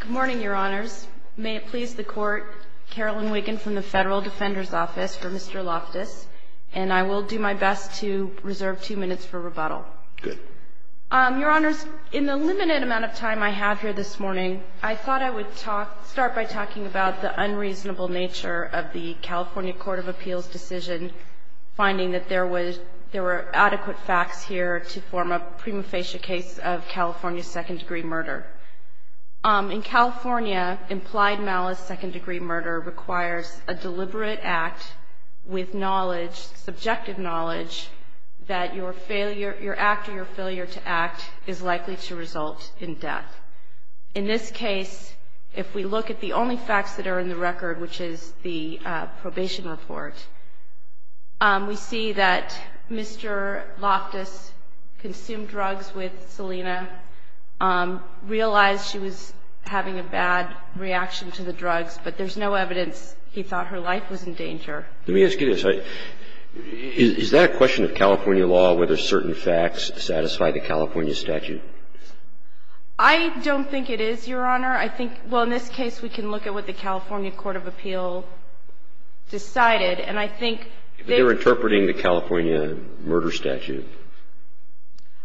Good morning, Your Honors. May it please the Court, Carolyn Wiggin from the Federal Defender's Office for Mr. Loftis, and I will do my best to reserve two minutes for rebuttal. Good. Your Honors, in the limited amount of time I have here this morning, I thought I would start by talking about the unreasonable nature of the California Court of Appeals decision, finding that there were adequate facts here to form a prima facie case of California second-degree murder. In California, implied malice second-degree murder requires a deliberate act with knowledge, subjective knowledge, that your act or your failure to act is likely to result in death. In this case, if we look at the only facts that are in the record, which is the probation report, we see that Mr. Loftis consumed drugs with Selena, realized she was having a bad reaction to the drugs, but there's no evidence he thought her life was in danger. Let me ask you this. Is that a question of California law, whether certain facts satisfy the California statute? I don't think it is, Your Honor. I think — well, in this case, we can look at what the California Court of Appeals decided, and I think that — But they're interpreting the California murder statute.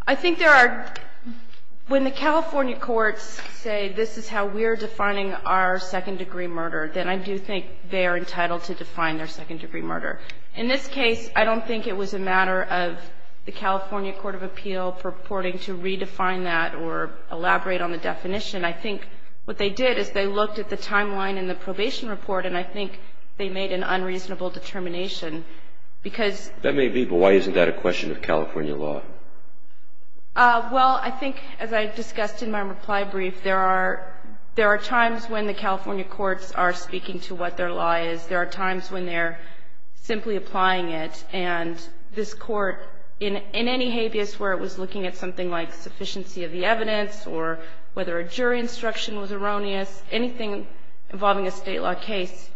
I think there are — when the California courts say this is how we're defining our second-degree murder, then I do think they are entitled to define their second-degree murder. In this case, I don't think it was a matter of the California Court of Appeals purporting to redefine that or elaborate on the definition. I think what they did is they looked at the timeline in the probation report, and I think they made an unreasonable determination because — That may be, but why isn't that a question of California law? Well, I think, as I discussed in my reply brief, there are times when the California courts are speaking to what their law is. There are times when they're simply applying it. And this Court, in any habeas where it was looking at something like sufficiency of the evidence or whether a jury instruction was erroneous, anything involving a state law case,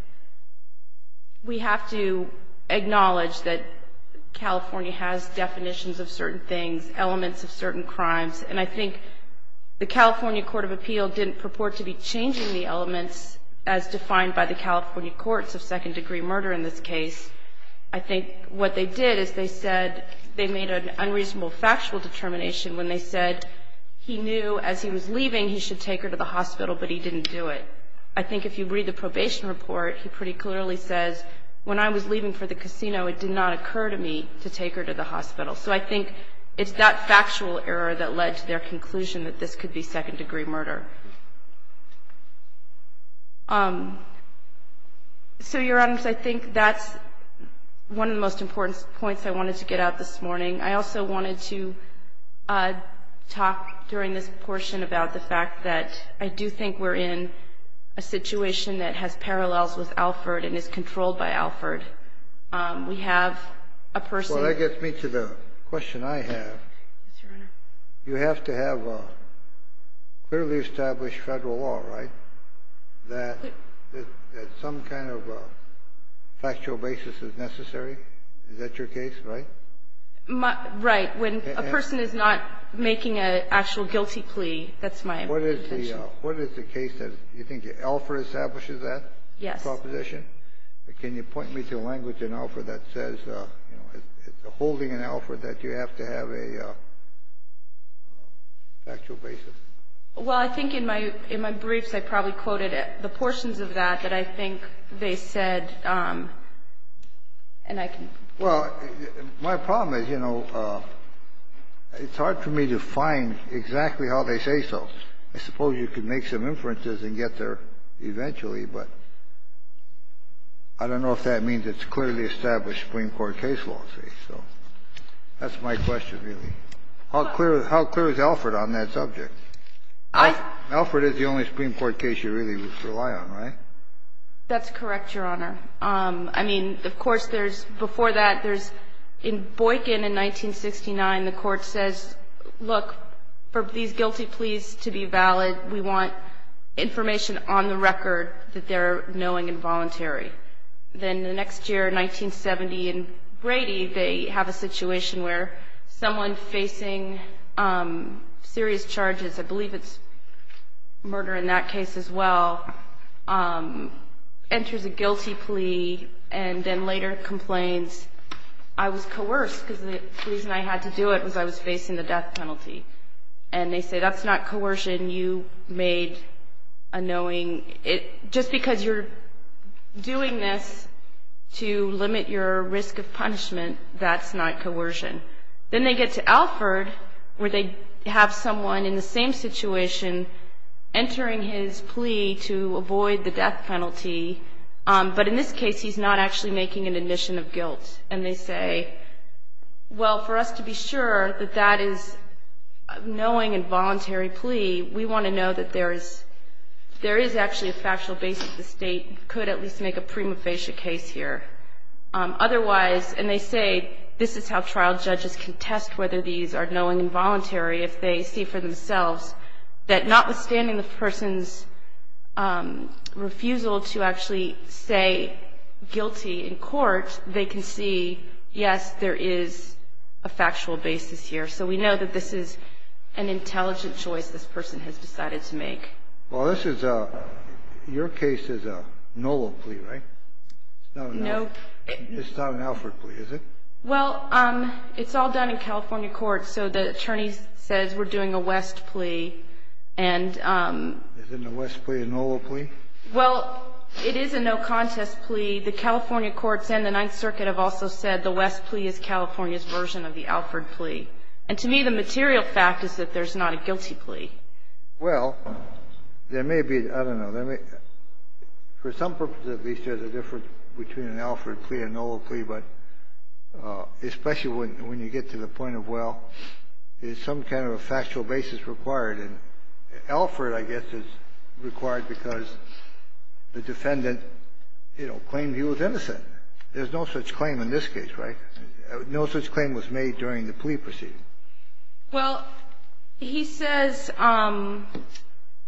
we have to acknowledge that California has definitions of certain things, elements of certain crimes. And I think the California Court of Appeals didn't purport to be changing the elements as defined by the California courts of second-degree murder in this case. I think what they did is they said they made an unreasonable factual determination when they said he knew as he was leaving he should take her to the hospital, but he didn't do it. I think if you read the probation report, he pretty clearly says, when I was leaving for the casino, it did not occur to me to take her to the hospital. So I think it's that factual error that led to their conclusion that this could be second-degree murder. So, Your Honors, I think that's one of the most important points I wanted to get out this morning. I also wanted to talk during this portion about the fact that I do think we're in a situation that has parallels with Alford and is controlled by Alford. The question I have, you have to have clearly established Federal law, right, that some kind of factual basis is necessary. Is that your case, right? Right. When a person is not making an actual guilty plea, that's my intention. What is the case that you think Alford establishes that proposition? Yes. Can you point me to a language in Alford that says, you know, it's a holding in Alford that you have to have a factual basis? Well, I think in my briefs I probably quoted the portions of that that I think they said, and I can. Well, my problem is, you know, it's hard for me to find exactly how they say so. I suppose you could make some inferences and get there eventually, but I don't know if that means it's clearly established Supreme Court case law, see. So that's my question, really. How clear is Alford on that subject? Alford is the only Supreme Court case you really rely on, right? That's correct, Your Honor. I mean, of course, there's before that, there's in Boykin in 1969, the Court says, look, for these guilty pleas to be valid, we want information on the record that they're knowing and voluntary. Then the next year, 1970 in Brady, they have a situation where someone facing serious charges, I believe it's murder in that case as well, enters a guilty plea and then later complains, I was coerced because the reason I had to do it was I was facing the death penalty. And they say, that's not coercion. You made a knowing. Just because you're doing this to limit your risk of punishment, that's not coercion. Then they get to Alford where they have someone in the same situation entering his plea to avoid the death penalty, but in this case, he's not actually making an admission of guilt. And they say, well, for us to be sure that that is a knowing and voluntary plea, we want to know that there is actually a factual basis the State could at least make a prima facie case here. Otherwise, and they say, this is how trial judges can test whether these are knowing and voluntary, if they see for themselves that notwithstanding the person's refusal to actually say guilty in court, they can see, yes, there is a factual basis here. So we know that this is an intelligent choice this person has decided to make. Well, this is a – your case is a no will plea, right? Nope. It's not an Alford plea, is it? Well, it's all done in California courts. So the attorney says we're doing a West plea. And – Is it a West plea, a no will plea? Well, it is a no contest plea. The California courts and the Ninth Circuit have also said the West plea is California's version of the Alford plea. And to me, the material fact is that there's not a guilty plea. Well, there may be – I don't know. For some purpose, at least, there's a difference between an Alford plea and no will plea. But especially when you get to the point of, well, is some kind of a factual basis required? And Alford, I guess, is required because the defendant, you know, claimed he was innocent. There's no such claim in this case, right? No such claim was made during the plea proceeding. Well, he says –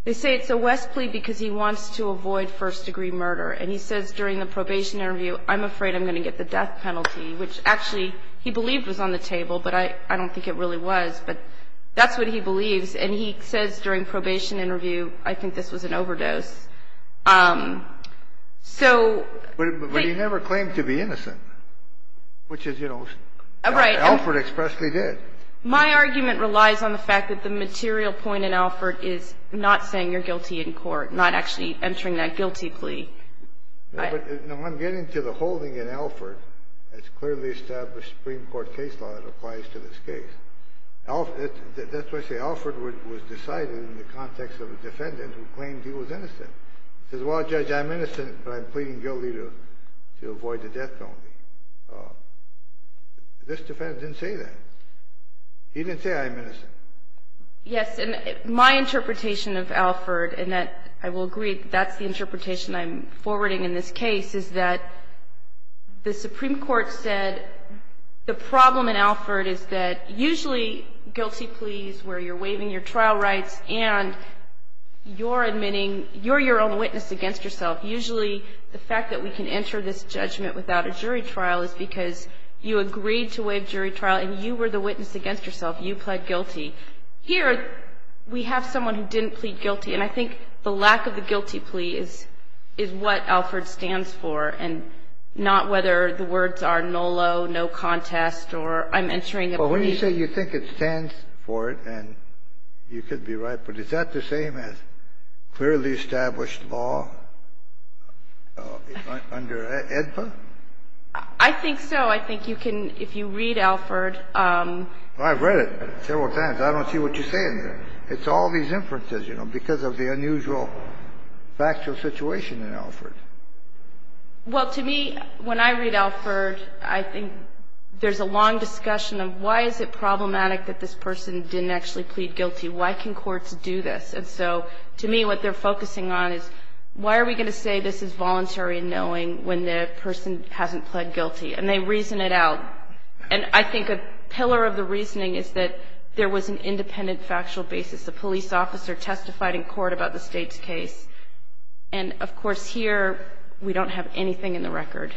they say it's a West plea because he wants to avoid first-degree murder. And he says during the probation interview, I'm afraid I'm going to get the death penalty, which actually he believed was on the table, but I don't think it really was. But that's what he believes. And he says during probation interview, I think this was an overdose. So – But he never claimed to be innocent, which is, you know, Alford expressly did. My argument relies on the fact that the material point in Alford is not saying you're guilty in court, not actually entering that guilty plea. No, I'm getting to the holding in Alford that's clearly established Supreme Court case law that applies to this case. That's why I say Alford was decided in the context of a defendant who claimed he was innocent. He says, well, Judge, I'm innocent, but I'm pleading guilty to avoid the death penalty. This defendant didn't say that. He didn't say I'm innocent. Yes, and my interpretation of Alford, and I will agree that that's the interpretation I'm forwarding in this case, is that the Supreme Court said the problem in Alford is that usually guilty pleas where you're waiving your trial rights and you're admitting you're your own witness against yourself, usually the fact that we can enter this judgment without a jury trial is because you agreed to waive jury trial and you were the witness against yourself. You pled guilty. Here we have someone who didn't plead guilty, and I think the lack of the guilty plea is what Alford stands for and not whether the words are NOLO, no contest, or I'm entering a plea. Well, when you say you think it stands for it, and you could be right, but is that the same as clearly established law under AEDPA? I think so. I think you can, if you read Alford. I've read it several times. I don't see what you're saying there. It's all these inferences, you know, because of the unusual factual situation in Alford. Well, to me, when I read Alford, I think there's a long discussion of why is it problematic that this person didn't actually plead guilty. Why can courts do this? And so to me what they're focusing on is why are we going to say this is voluntary and knowing when the person hasn't pled guilty, and they reason it out. And I think a pillar of the reasoning is that there was an independent factual basis. A police officer testified in court about the state's case. And, of course, here we don't have anything in the record.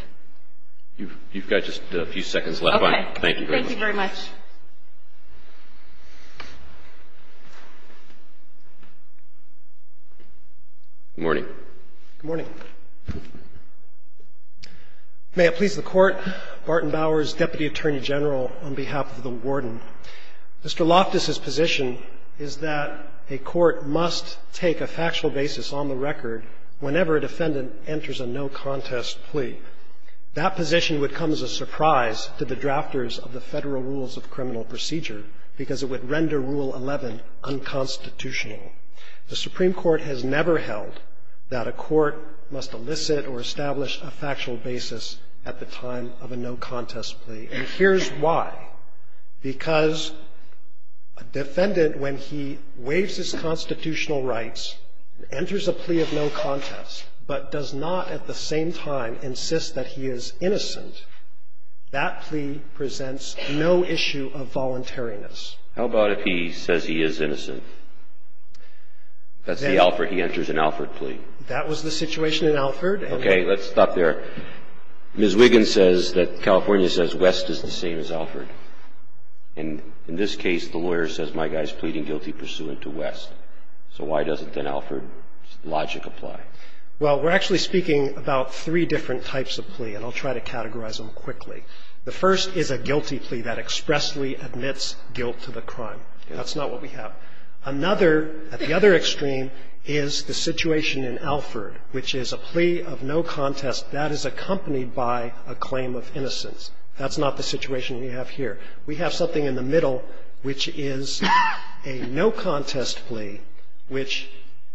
You've got just a few seconds left. Okay. Thank you very much. Thank you very much. Good morning. Good morning. May it please the Court, Barton Bowers, Deputy Attorney General, on behalf of the Warden. Mr. Loftus's position is that a court must take a factual basis on the record whenever a defendant enters a no-contest plea. That position would come as a surprise to the drafters of the Federal Rules of Criminal Procedure because it would render Rule 11 unconstitutional. The Supreme Court has never held that a court must elicit or establish a factual basis at the time of a no-contest plea. And here's why. Because a defendant, when he waives his constitutional rights, enters a plea of no-contest, but does not at the same time insist that he is innocent, that plea presents no issue of voluntariness. How about if he says he is innocent? That's the Alford. He enters an Alford plea. That was the situation in Alford. Okay. Let's stop there. Ms. Wiggins says that California says West is the same as Alford. And in this case, the lawyer says my guy's pleading guilty pursuant to West. So why doesn't an Alford logic apply? Well, we're actually speaking about three different types of plea, and I'll try to categorize them quickly. The first is a guilty plea that expressly admits guilt to the crime. That's not what we have. Another, at the other extreme, is the situation in Alford, which is a plea of no-contest that is accompanied by a claim of innocence. That's not the situation we have here. We have something in the middle, which is a no-contest plea which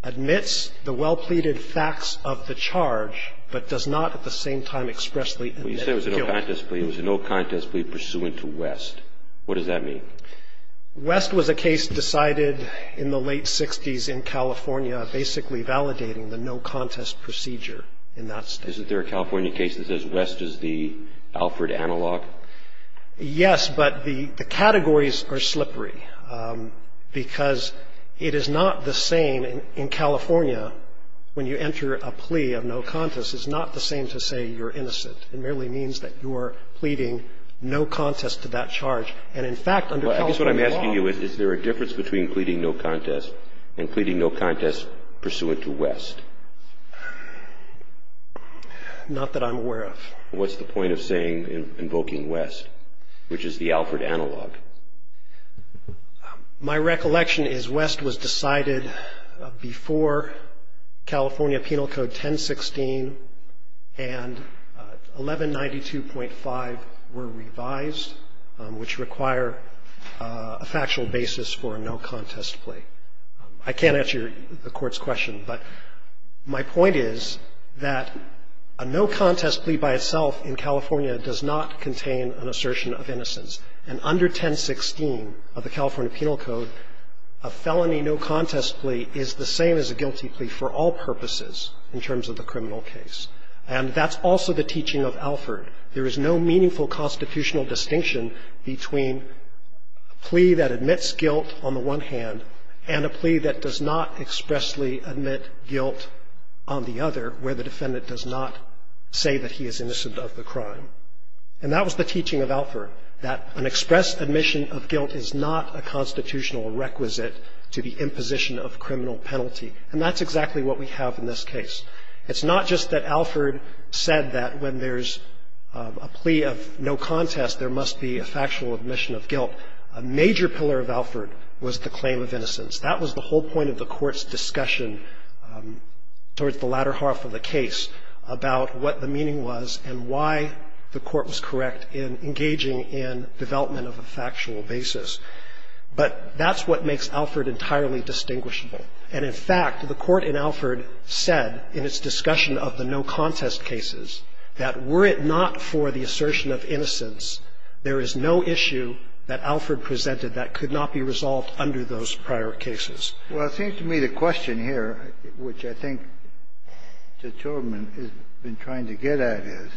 admits the well-pleaded facts of the charge, but does not at the same time expressly admit guilt. The second type of plea is a no-contest plea pursuant to West. What does that mean? West was a case decided in the late 60s in California, basically validating the no-contest procedure in that state. Isn't there a California case that says West is the Alford analog? Yes, but the categories are slippery because it is not the same in California when you are pleading no-contest to that charge. And, in fact, under California law... Well, I guess what I'm asking you is, is there a difference between pleading no-contest and pleading no-contest pursuant to West? Not that I'm aware of. What's the point of saying, invoking West, which is the Alford analog? My recollection is West was decided before California Penal Code 1016 and 1192.5 were revised, which require a factual basis for a no-contest plea. I can't answer the Court's question, but my point is that a no-contest plea by itself in California does not contain an assertion of innocence. And under 1016 of the California Penal Code, a felony no-contest plea is the same as a guilty plea for all purposes in terms of the criminal case. And that's also the teaching of Alford. There is no meaningful constitutional distinction between a plea that admits guilt on the one hand and a plea that does not expressly admit guilt on the other, where the defendant does not say that he is innocent of the crime. And that was the teaching of Alford, that an express admission of guilt is not a constitutional requisite to the imposition of criminal penalty. And that's exactly what we have in this case. It's not just that Alford said that when there's a plea of no-contest, there must be a factual admission of guilt. A major pillar of Alford was the claim of innocence. That was the whole point of the Court's discussion towards the latter half of the case about what the meaning was and why the Court was correct in engaging in development of a factual basis. But that's what makes Alford entirely distinguishable. And in fact, the Court in Alford said in its discussion of the no-contest cases that were it not for the assertion of innocence, there is no issue that Alford presented that could not be resolved under those prior cases. Well, it seems to me the question here, which I think Judge Tillerman has been trying to get at, is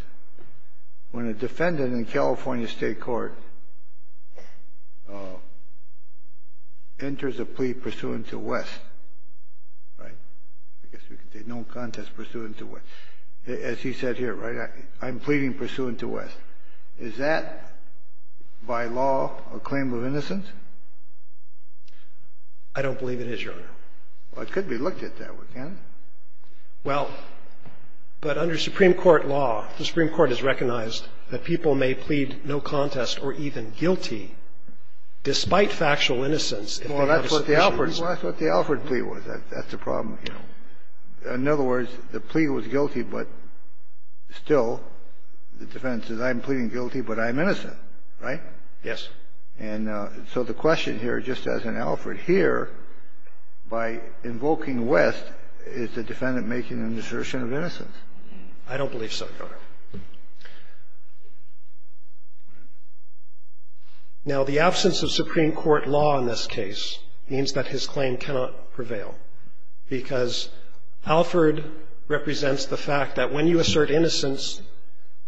when a defendant in a California State court enters a plea pursuant to West, right, I guess we could say no-contest pursuant to West, as he said here, right, I'm pleading pursuant to West. Is that, by law, a claim of innocence? I don't believe it is, Your Honor. Well, it could be looked at that way, can't it? Well, but under Supreme Court law, the Supreme Court has recognized that people may plead no contest or even guilty despite factual innocence. Well, that's what the Alford plea was. That's the problem here. In other words, the plea was guilty, but still the defendant says I'm pleading guilty, but I'm innocent, right? Yes. And so the question here, just as in Alford here, by invoking West, is the defendant making an assertion of innocence? I don't believe so, Your Honor. Now, the absence of Supreme Court law in this case means that his claim cannot prevail because Alford represents the fact that when you assert innocence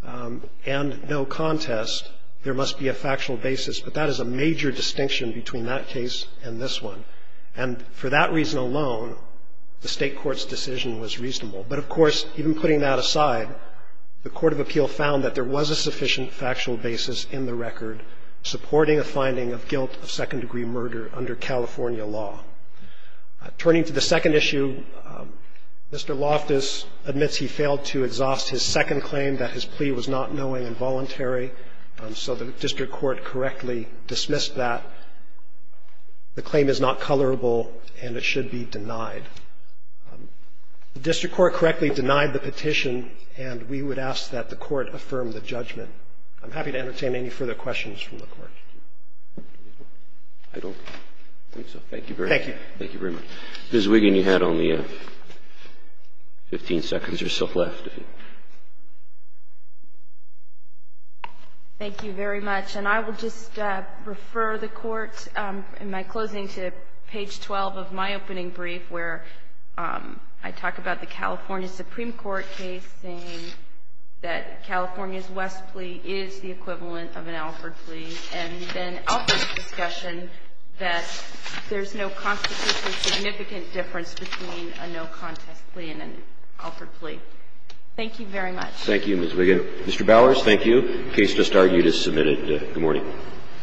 and no contest, there must be a factual basis, but that is a major distinction between that case and this one. And for that reason alone, the State court's decision was reasonable. But, of course, even putting that aside, the court of appeal found that there was a sufficient factual basis in the record supporting a finding of guilt of second-degree murder under California law. Turning to the second issue, Mr. Loftus admits he failed to exhaust his second claim, that his plea was not knowing and voluntary. So the district court correctly dismissed that. The claim is not colorable, and it should be denied. The district court correctly denied the petition, and we would ask that the court affirm the judgment. I'm happy to entertain any further questions from the Court. I don't think so. Thank you very much. Thank you. Thank you very much. Ms. Wiggin, you had only 15 seconds or so left. Thank you very much. And I will just refer the Court, in my closing, to page 12 of my opening brief, where I talk about the California Supreme Court case saying that California's plea is equivalent of an Alford plea, and then Alford's discussion that there's no constitutionally significant difference between a no-contest plea and an Alford plea. Thank you very much. Thank you, Ms. Wiggin. Mr. Bowers, thank you. The case just argued is submitted. Good morning.